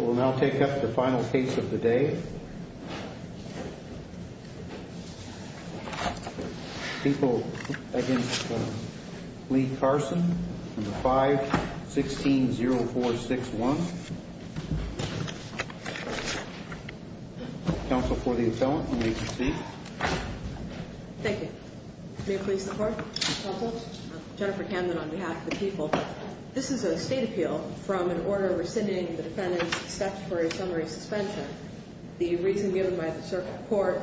We'll now take up the final case of the day. People against Lee Carson, 5-16-0461. Counsel for the appellant, you may proceed. Thank you. May I please report? Counsel? Jennifer Camden on behalf of the people. This is a state appeal from an order rescinding the defendant's statutory summary suspension. The reason given by the circuit court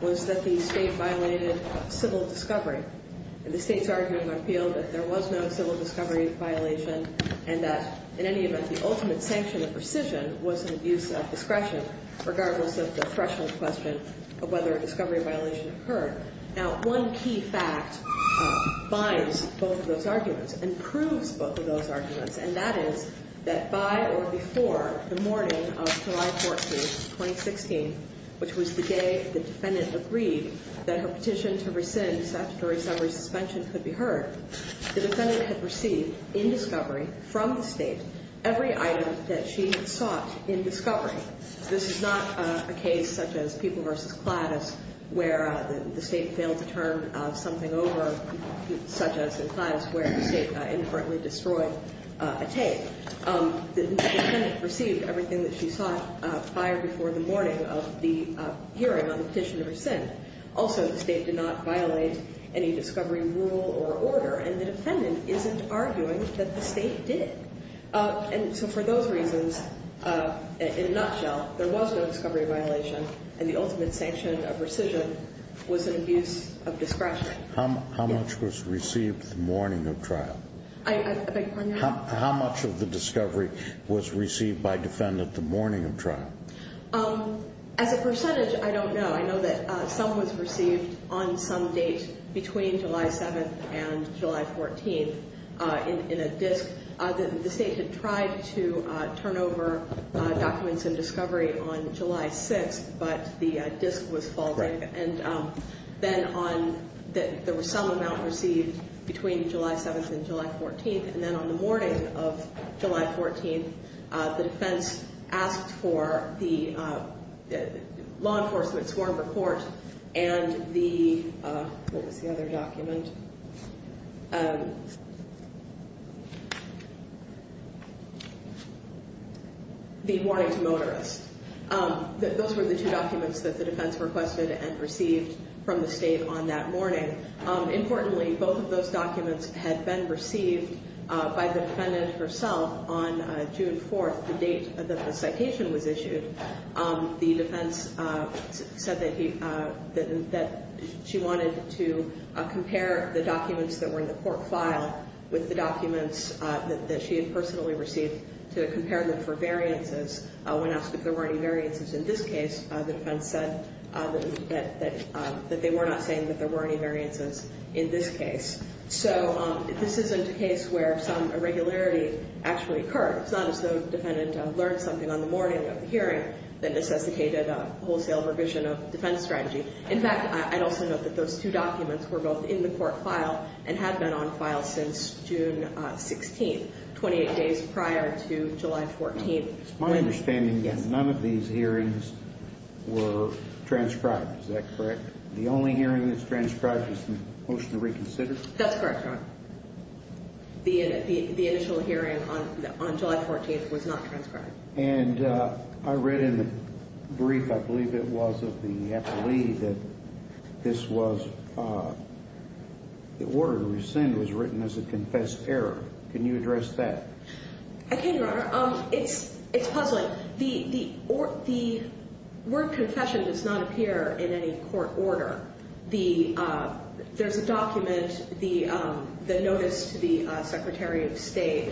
was that the state violated civil discovery. The state's argument appealed that there was no civil discovery violation and that, in any event, the ultimate sanction of rescission was an abuse of discretion, regardless of the threshold question of whether a discovery violation occurred. Now, one key fact binds both of those arguments and proves both of those arguments, and that is that by or before the morning of July 14, 2016, which was the day the defendant agreed that her petition to rescind statutory summary suspension could be heard, the defendant had received, in discovery, from the state, every item that she had sought in discovery. This is not a case such as People v. Cladis, where the state failed to turn something over, such as in Cladis, where the state inadvertently destroyed a tape. The defendant received everything that she sought by or before the morning of the hearing on the petition to rescind. Also, the state did not violate any discovery rule or order, and the defendant isn't arguing that the state did. And so for those reasons, in a nutshell, there was no discovery violation, and the ultimate sanction of rescission was an abuse of discretion. How much was received the morning of trial? I beg your pardon? How much of the discovery was received by defendant the morning of trial? As a percentage, I don't know. I know that some was received on some date between July 7th and July 14th in a disk because the state had tried to turn over documents in discovery on July 6th, but the disk was faulty. And then there was some amount received between July 7th and July 14th, and then on the morning of July 14th, the defense asked for the law enforcement sworn report and the, what was the other document, the warning to motorists. Those were the two documents that the defense requested and received from the state on that morning. Importantly, both of those documents had been received by the defendant herself on June 4th, the date that the citation was issued. The defense said that she wanted to compare the documents that were in the court file with the documents that she had personally received to compare them for variances. When asked if there were any variances in this case, the defense said that they were not saying that there were any variances in this case. So this isn't a case where some irregularity actually occurred. It's not as though the defendant learned something on the morning of the hearing that necessitated a wholesale revision of defense strategy. In fact, I'd also note that those two documents were both in the court file and have been on file since June 16th, 28 days prior to July 14th. It's my understanding that none of these hearings were transcribed. Is that correct? The only hearing that's transcribed is the motion to reconsider? That's correct, Your Honor. The initial hearing on July 14th was not transcribed. And I read in the brief, I believe it was, of the appellee that this was the order to rescind was written as a confessed error. Can you address that? I can, Your Honor. It's puzzling. The word confession does not appear in any court order. There's a document, the notice to the Secretary of State,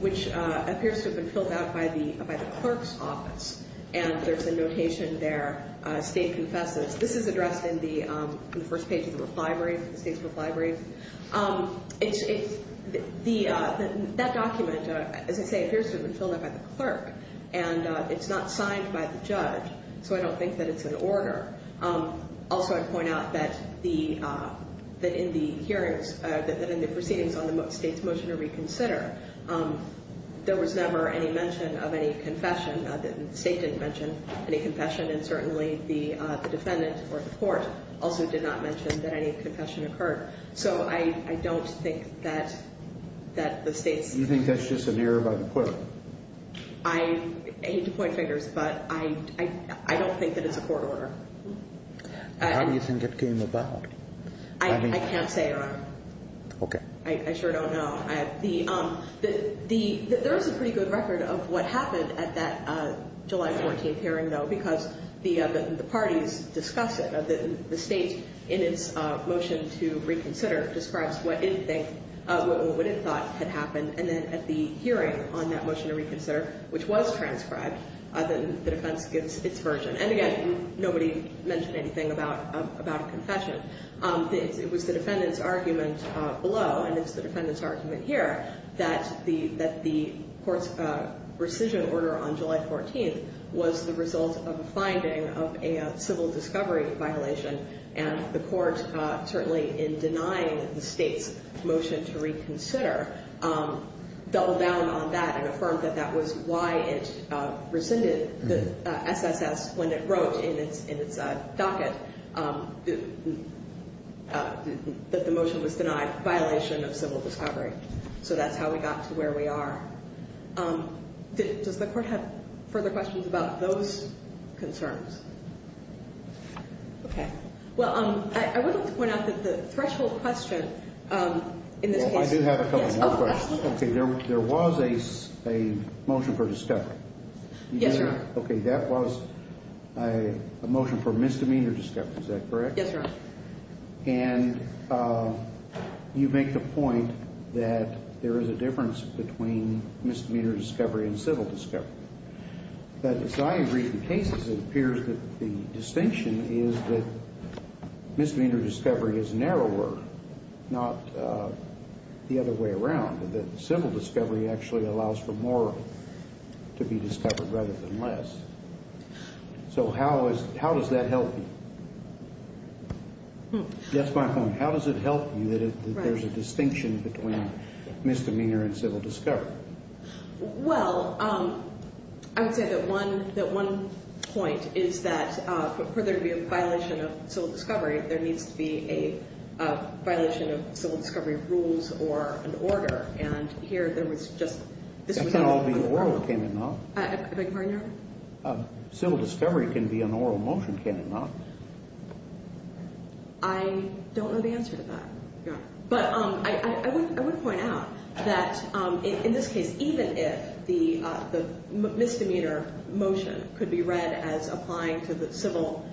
which appears to have been filled out by the clerk's office. And there's a notation there, State confesses. This is addressed in the first page of the State's book library. That document, as I say, appears to have been filled out by the clerk. And it's not signed by the judge, so I don't think that it's an order. Also, I'd point out that in the proceedings on the State's motion to reconsider, there was never any mention of any confession. The State didn't mention any confession, and certainly the defendant or the court also did not mention that any confession occurred. So I don't think that the State's... Do you think that's just an error by the court? I hate to point fingers, but I don't think that it's a court order. How do you think it came about? I can't say, Your Honor. Okay. I sure don't know. There is a pretty good record of what happened at that July 14th hearing, though, because the parties discuss it. The State, in its motion to reconsider, describes what it thought had happened. And then at the hearing on that motion to reconsider, which was transcribed, the defense gives its version. And again, nobody mentioned anything about a confession. It was the defendant's argument below, and it's the defendant's argument here, that the court's rescission order on July 14th was the result of a finding of a civil discovery violation. And the court, certainly in denying the State's motion to reconsider, doubled down on that and affirmed that that was why it rescinded the SSS when it wrote in its docket that the motion was denied, violation of civil discovery. So that's how we got to where we are. Does the court have further questions about those concerns? Okay. Well, I would like to point out that the threshold question in this case... Okay. There was a motion for discovery. Yes, sir. Okay. That was a motion for misdemeanor discovery. Is that correct? Yes, sir. And you make the point that there is a difference between misdemeanor discovery and civil discovery. But as I read the cases, it appears that the distinction is that misdemeanor discovery is narrower, not the other way around, and that civil discovery actually allows for more to be discovered rather than less. So how does that help you? That's my point. How does it help you that there's a distinction between misdemeanor and civil discovery? Well, I would say that one point is that for there to be a violation of civil discovery, there needs to be a violation of civil discovery rules or an order. And here there was just... It can't all be oral, can it not? I beg your pardon, Your Honor? Civil discovery can be an oral motion, can it not? I don't know the answer to that, Your Honor. But I would point out that in this case, even if the misdemeanor motion could be read as applying to the civil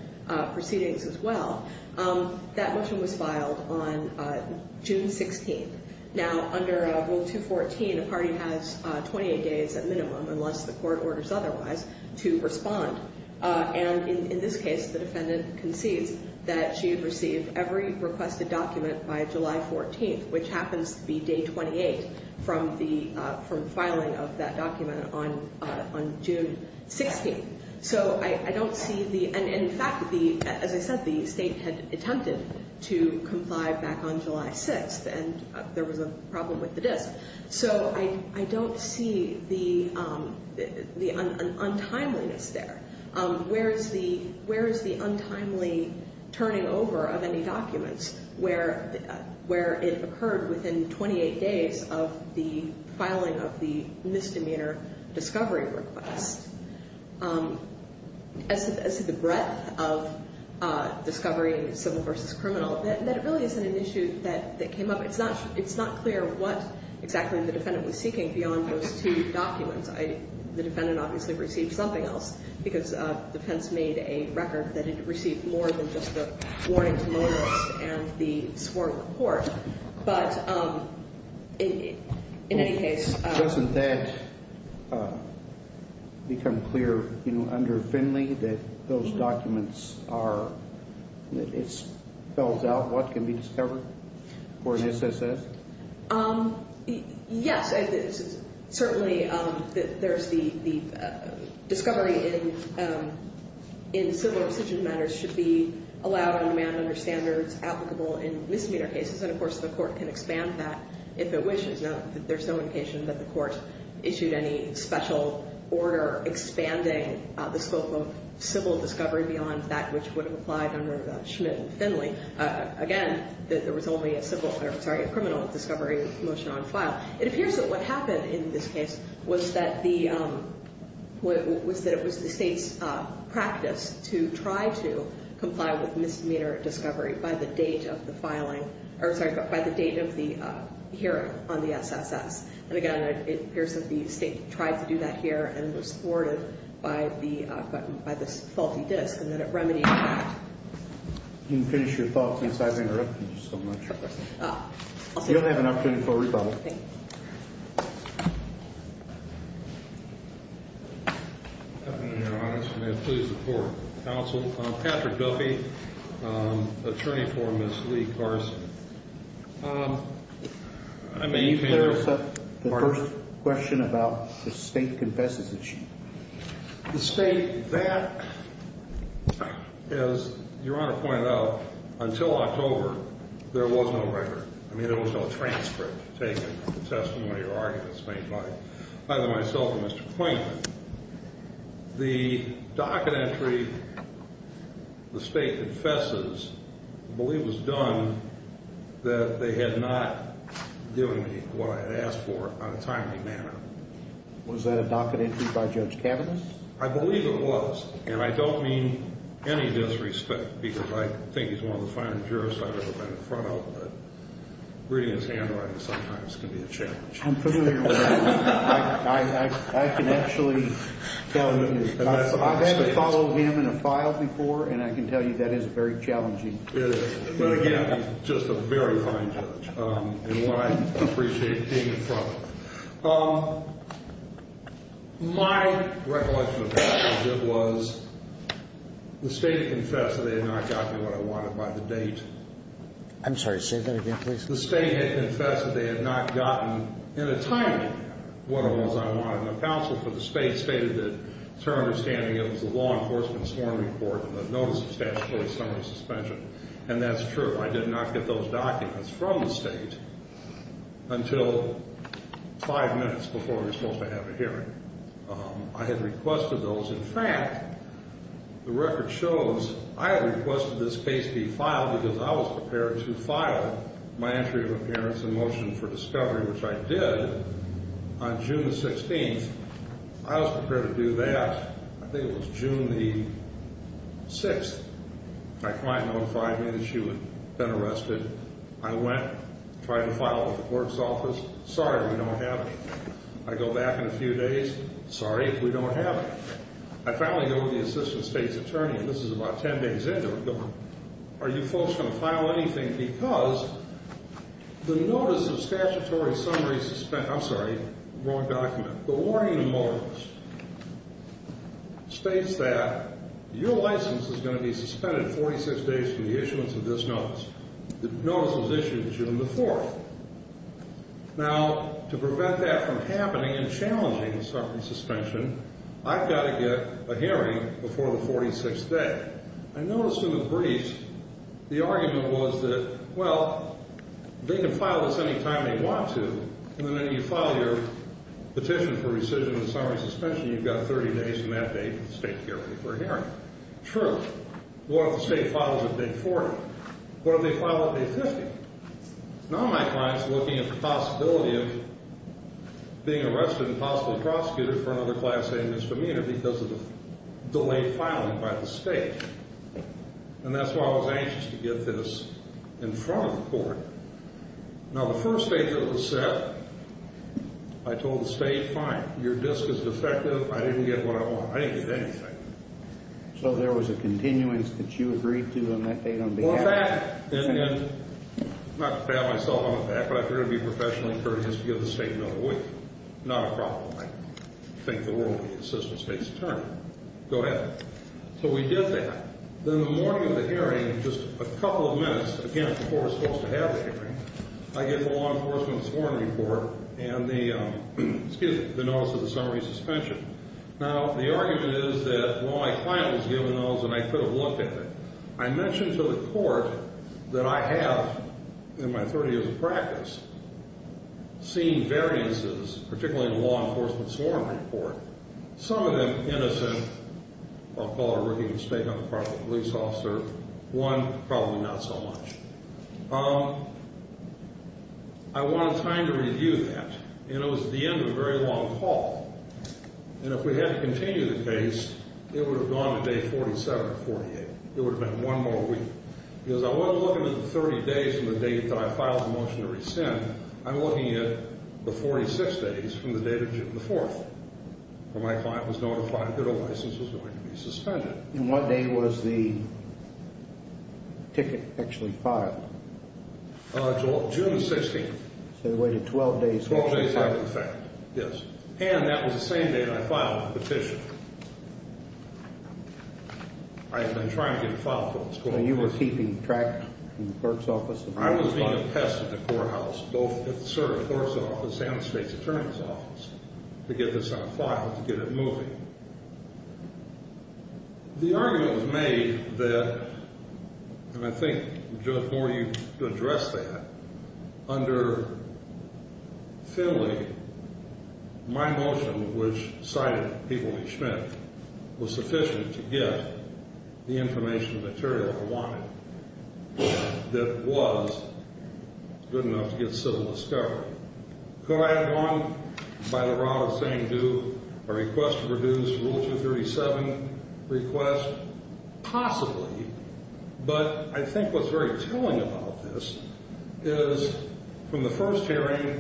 proceedings as well, that motion was filed on June 16th. Now, under Rule 214, a party has 28 days at minimum, unless the court orders otherwise, to respond. And in this case, the defendant concedes that she had received every requested document by July 14th, which happens to be day 28 from filing of that document on June 16th. So I don't see the... And in fact, as I said, the state had attempted to comply back on July 6th, and there was a problem with the disk. So I don't see the untimeliness there. Where is the untimely turning over of any documents where it occurred within 28 days of the filing of the misdemeanor discovery request? As to the breadth of discovery in civil versus criminal, that really isn't an issue that came up. It's not clear what exactly the defendant was seeking beyond those two documents. The defendant obviously received something else because the defense made a record that it received more than just the warnings and the sworn report. But in any case... Has it become clear under Finley that those documents are... It spells out what can be discovered for an SSS? Yes. Certainly, there's the discovery in civil decision matters should be allowed on demand under standards applicable in misdemeanor cases. And, of course, the court can expand that if it wishes. There's no indication that the court issued any special order expanding the scope of civil discovery beyond that which would have applied under Schmidt and Finley. Again, there was only a criminal discovery motion on file. It appears that what happened in this case was that it was the state's practice to try to comply with misdemeanor discovery by the date of the filing. Or, sorry, by the date of the hearing on the SSS. And, again, it appears that the state tried to do that here and was thwarted by this faulty disk and that it remedied that. You can finish your thoughts since I've interrupted you so much. You'll have an opportunity for a rebuttal. Thank you. Your Honor, may it please the court. Counsel, Patrick Duffy, attorney for Ms. Lee Carson. May you clarify the first question about the state confesses that she... The state that, as Your Honor pointed out, until October, there was no record. I mean, there was no transcript taken from the testimony or arguments made by either myself or Mr. Quainton. The docket entry, the state confesses, I believe was done that they had not given me what I had asked for on a timely manner. Was that a docket entry by Judge Kavanaugh? I believe it was. And I don't mean any disrespect because I think he's one of the finest jurists I've ever met in front of. But reading his handwriting sometimes can be a challenge. I'm familiar with that. I can actually tell you. I've had to follow him in a file before, and I can tell you that is very challenging. It is. But, again, just a very fine judge and one I appreciate being in front of. My recollection of that, Judge, was the state confessed that they had not gotten me what I wanted by the date. I'm sorry, say that again, please. The state had confessed that they had not gotten in a timely manner what it was I wanted. And the counsel for the state stated that it's her understanding it was the law enforcement sworn report and the notice of statutory summary suspension. And that's true. I did not get those documents from the state until five minutes before we were supposed to have a hearing. I had requested those. In fact, the record shows I had requested this case be filed because I was prepared to file my entry of appearance and motion for discovery, which I did, on June the 16th. I was prepared to do that. I think it was June the 6th. My client notified me that she had been arrested. I went, tried to file it with the court's office. Sorry, we don't have it. I go back in a few days. Sorry, we don't have it. I finally go to the assistant state's attorney, and this is about 10 days into it, and go, are you folks going to file anything because the notice of statutory summary suspension I'm sorry, wrong document. The warning notice states that your license is going to be suspended 46 days from the issuance of this notice. The notice was issued June the 4th. Now, to prevent that from happening and challenging the summary suspension, I've got to get a hearing before the 46th day. I noticed in the briefs the argument was that, well, they can file this any time they want to, and then when you file your petition for rescission and summary suspension, you've got 30 days from that date for the state hearing. True. What if the state files it on day 40? What if they file it on day 50? Now my client's looking at the possibility of being arrested and possibly prosecuted for another class A misdemeanor because of the delayed filing by the state, and that's why I was anxious to get this in front of the court. Now, the first date that it was set, I told the state, fine, your disk is defective. I didn't get what I wanted. I didn't get anything. So there was a continuance that you agreed to on that date on behalf of the state? Not to pat myself on the back, but I figured it would be professionally courteous to give the state another week. Not a problem. I think the world needs an assistant state's attorney. Go ahead. So we did that. Then the morning of the hearing, just a couple of minutes, again, before we're supposed to have the hearing, I get the law enforcement's warrant report and the notice of the summary suspension. Now, the argument is that, well, my client was given those and I could have looked at them. I mentioned to the court that I have, in my 30 years of practice, seen variances, particularly in the law enforcement's warrant report, some of them innocent. I'll call it a rookie mistake on the part of the police officer. One, probably not so much. I wanted time to review that, and it was the end of a very long call. And if we had to continue the case, it would have gone to day 47 or 48. It would have been one more week. Because I wasn't looking at the 30 days from the date that I filed the motion to rescind. I'm looking at the 46 days from the date of June the 4th, when my client was notified that a license was going to be suspended. And what day was the ticket actually filed? June the 16th. So they waited 12 days. 12 days after the fact, yes. And that was the same day that I filed the petition. I had been trying to get it filed for this court. So you were keeping track of the clerk's office? I was being a pest at the courthouse, both at the clerk's office and the state's attorney's office, to get this on file, to get it moving. The argument was made that, and I think, Judge Moore, you addressed that. Under Finley, my motion, which cited people like Schmidt, was sufficient to get the information and material I wanted that was good enough to get civil discovery. Could I have gone by the route of saying, do a request to reduce Rule 237 request? Possibly. But I think what's very telling about this is, from the first hearing,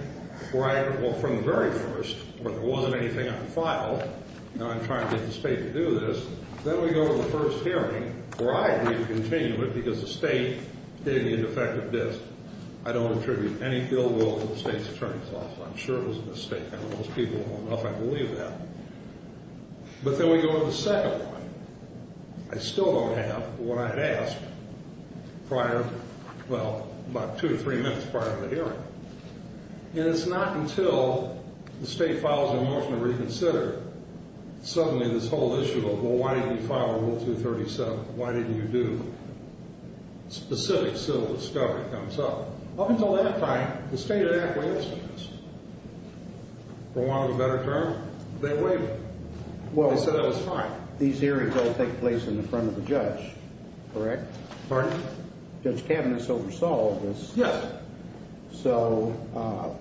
where I, well, from the very first, where there wasn't anything on the file, and I'm trying to get the state to do this, then we go to the first hearing, where I agreed to continue it because the state gave me a defective disk. I don't attribute any ill will to the state's attorney's office. I'm sure it was a mistake. I don't know if those people will know if I believe that. But then we go to the second one. I still don't have what I had asked prior, well, about two or three minutes prior to the hearing. And it's not until the state files a motion to reconsider, suddenly this whole issue of, well, why didn't you file Rule 237? Why didn't you do specific civil discovery comes up. Up until that time, the State Act waived this. For want of a better term, they waived it. They said it was fine. These hearings all take place in the front of the judge, correct? Pardon? Judge Kavanagh's oversaw all of this. Yes. So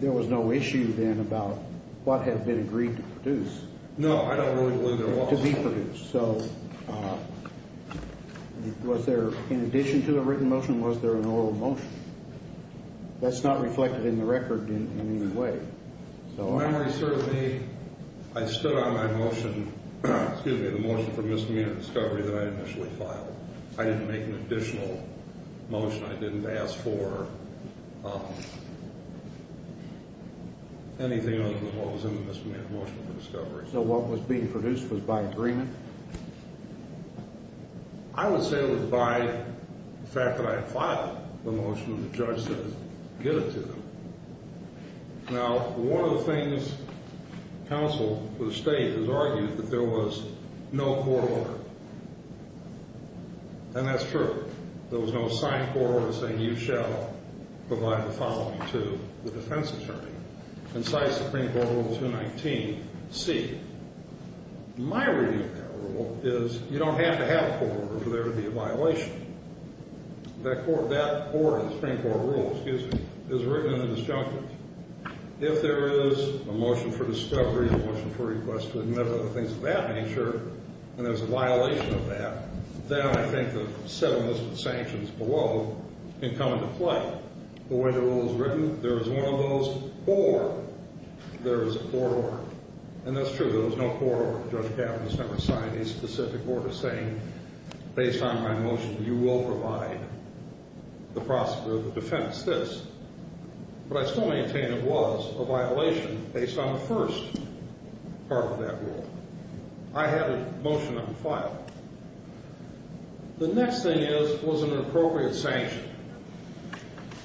there was no issue then about what had been agreed to produce. No, I don't really believe there was. To be produced. So was there, in addition to a written motion, was there an oral motion? That's not reflected in the record in any way. The memory serves me. I stood on my motion, excuse me, the motion for misdemeanor discovery that I initially filed. I didn't make an additional motion. I didn't ask for anything other than what was in the misdemeanor motion for discovery. So what was being produced was by agreement? I would say it was by the fact that I had filed the motion and the judge said give it to them. Now, one of the things counsel for the State has argued is that there was no court order. And that's true. There was no signed court order saying you shall provide the following to the defense attorney. Concise Supreme Court Rule 219C. My reading of that rule is you don't have to have a court order for there to be a violation. That court, that order, the Supreme Court rule, excuse me, is written in the disjunctives. If there is a motion for discovery, a motion for request to admit other things of that nature, and there's a violation of that, then I think the seven listed sanctions below can come into play. The way the rule is written, there is one of those or there is a court order. And that's true. There was no court order. Judge Kavanaugh's never signed a specific order saying based on my motion you will provide the prosecutor of the defense this. But I still maintain it was a violation based on the first part of that rule. I had a motion that was filed. The next thing is, was it an appropriate sanction? I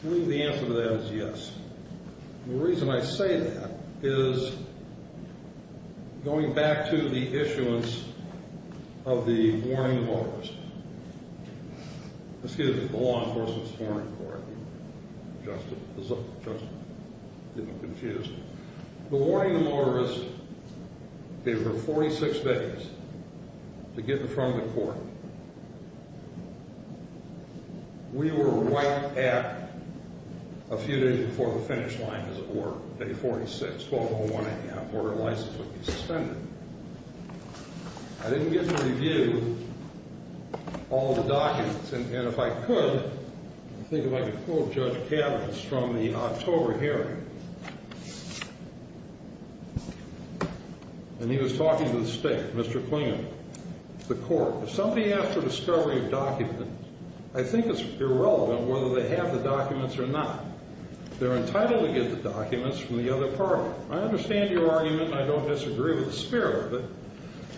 believe the answer to that is yes. The reason I say that is going back to the issuance of the warning to motorists. Excuse me, the Law Enforcement's Warning Court. Just a little confused. The warning to motorists gave her 46 days to get in front of the court. We were right at a few days before the finish line, as it were, day 46, 12.01 a.m., or her license would be suspended. I didn't get to review all the documents. And if I could, I think if I could pull Judge Kavanaugh from the October hearing, and he was talking to the state, Mr. Klinger, the court. If somebody asks for the discovery of documents, I think it's irrelevant whether they have the documents or not. They're entitled to get the documents from the other party. I understand your argument, and I don't disagree with the spirit of it.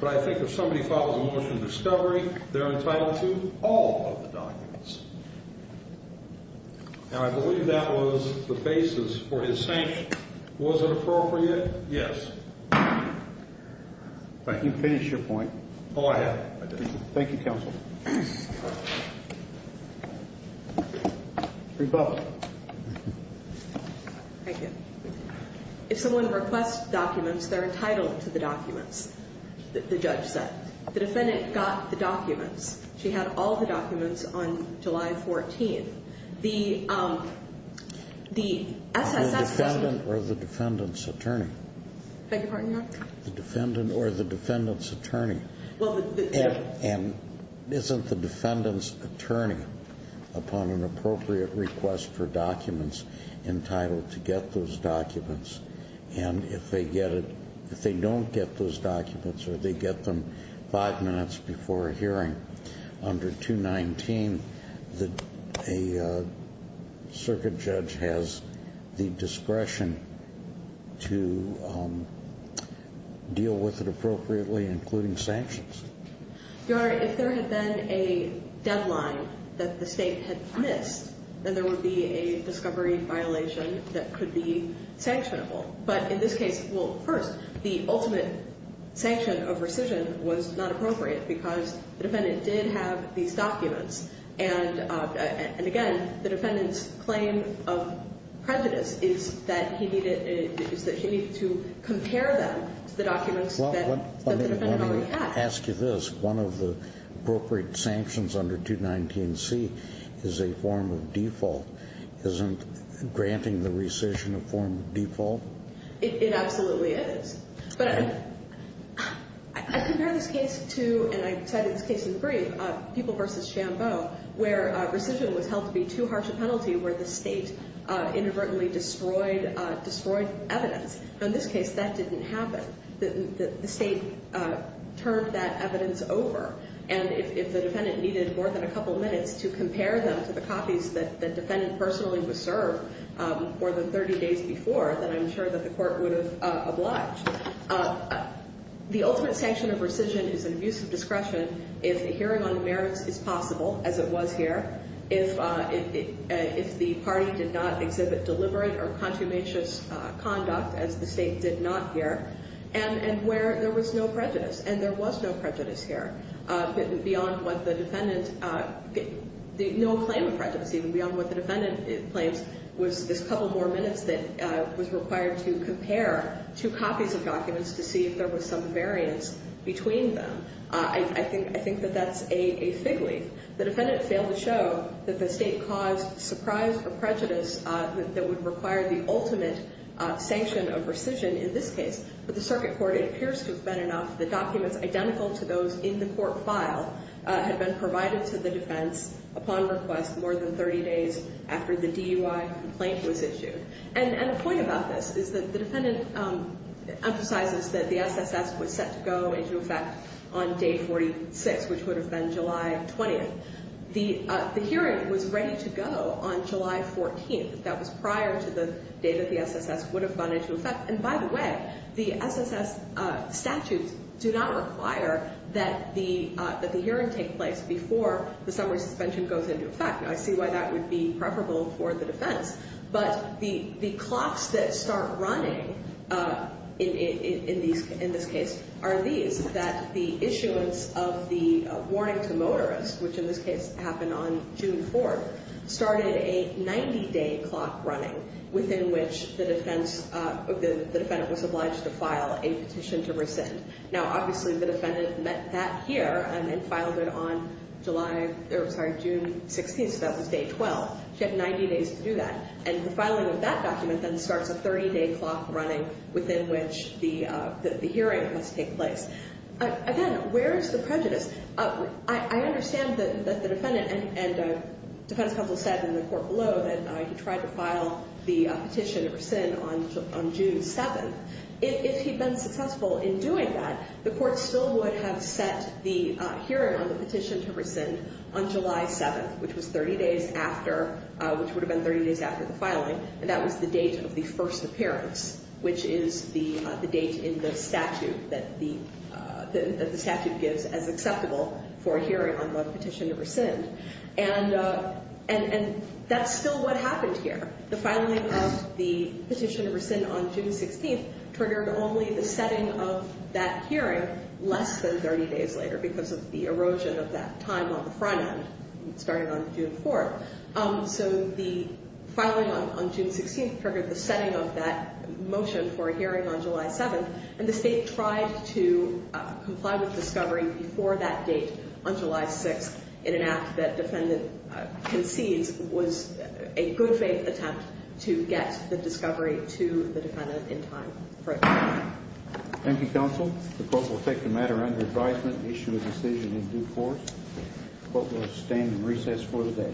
But I think if somebody follows a motion of discovery, they're entitled to all of the documents. Now, I believe that was the basis for his sanction. Was it appropriate? Yes. If I can finish your point. Go ahead. Thank you, counsel. Rebecca. Thank you. If someone requests documents, they're entitled to the documents that the judge said. The defendant got the documents. She had all the documents on July 14th. The SSS was the defendant or the defendant's attorney. Beg your pardon, Your Honor? The defendant or the defendant's attorney. And isn't the defendant's attorney, upon an appropriate request for documents, entitled to get those documents? And if they don't get those documents or they get them five minutes before a hearing under 219, a circuit judge has the discretion to deal with it appropriately, including sanctions? Your Honor, if there had been a deadline that the state had missed, then there would be a discovery violation that could be sanctionable. But in this case, well, first, the ultimate sanction of rescission was not appropriate because the defendant did have these documents. And, again, the defendant's claim of prejudice is that he needed to compare them to the documents that the defendant already had. Let me ask you this. One of the appropriate sanctions under 219C is a form of default. Isn't granting the rescission a form of default? It absolutely is. But I compare this case to, and I cited this case in the brief, People v. Shambo, where rescission was held to be too harsh a penalty where the state inadvertently destroyed evidence. In this case, that didn't happen. The state turned that evidence over. And if the defendant needed more than a couple minutes to compare them to the copies that the defendant personally was served more than 30 days before, then I'm sure that the court would have obliged. The ultimate sanction of rescission is an abuse of discretion if a hearing on merits is possible, as it was here, if the party did not exhibit deliberate or contumacious conduct, as the state did not here, and where there was no prejudice. And there was no prejudice here beyond what the defendant, no claim of prejudice even, beyond what the defendant claims was this couple more minutes that was required to compare two copies of documents to see if there was some variance between them. I think that that's a fig leaf. The defendant failed to show that the state caused surprise or prejudice that would require the ultimate sanction of rescission in this case. But the circuit court, it appears to have been enough. The documents identical to those in the court file had been provided to the defense upon request more than 30 days after the DUI complaint was issued. And the point about this is that the defendant emphasizes that the SSS was set to go into effect on day 46, which would have been July 20th. The hearing was ready to go on July 14th. That was prior to the day that the SSS would have gone into effect. And by the way, the SSS statutes do not require that the hearing take place before the summary suspension goes into effect. I see why that would be preferable for the defense. But the clocks that start running in this case are these, that the issuance of the warning to motorists, which in this case happened on June 4th, started a 90-day clock running within which the defendant was obliged to file a petition to rescind. Now, obviously, the defendant met that here and then filed it on June 16th, so that was day 12. She had 90 days to do that. And the filing of that document then starts a 30-day clock running within which the hearing has to take place. Again, where is the prejudice? I understand that the defendant and defense counsel said in the court below that he tried to file the petition to rescind on June 7th. If he'd been successful in doing that, the court still would have set the hearing on the petition to rescind on July 7th, which would have been 30 days after the filing, and that was the date of the first appearance, which is the date in the statute that the statute gives as acceptable for a hearing on the petition to rescind. And that's still what happened here. The filing of the petition to rescind on June 16th triggered only the setting of that hearing less than 30 days later because of the erosion of that time on the front end, starting on June 4th. So the filing on June 16th triggered the setting of that motion for a hearing on July 7th, and the State tried to comply with discovery before that date on July 6th in an act that defendant concedes was a good-faith attempt to get the discovery to the defendant in time for a hearing. Thank you, counsel. The court will take the matter under advisement and issue a decision in due course. The court will abstain and recess for the day.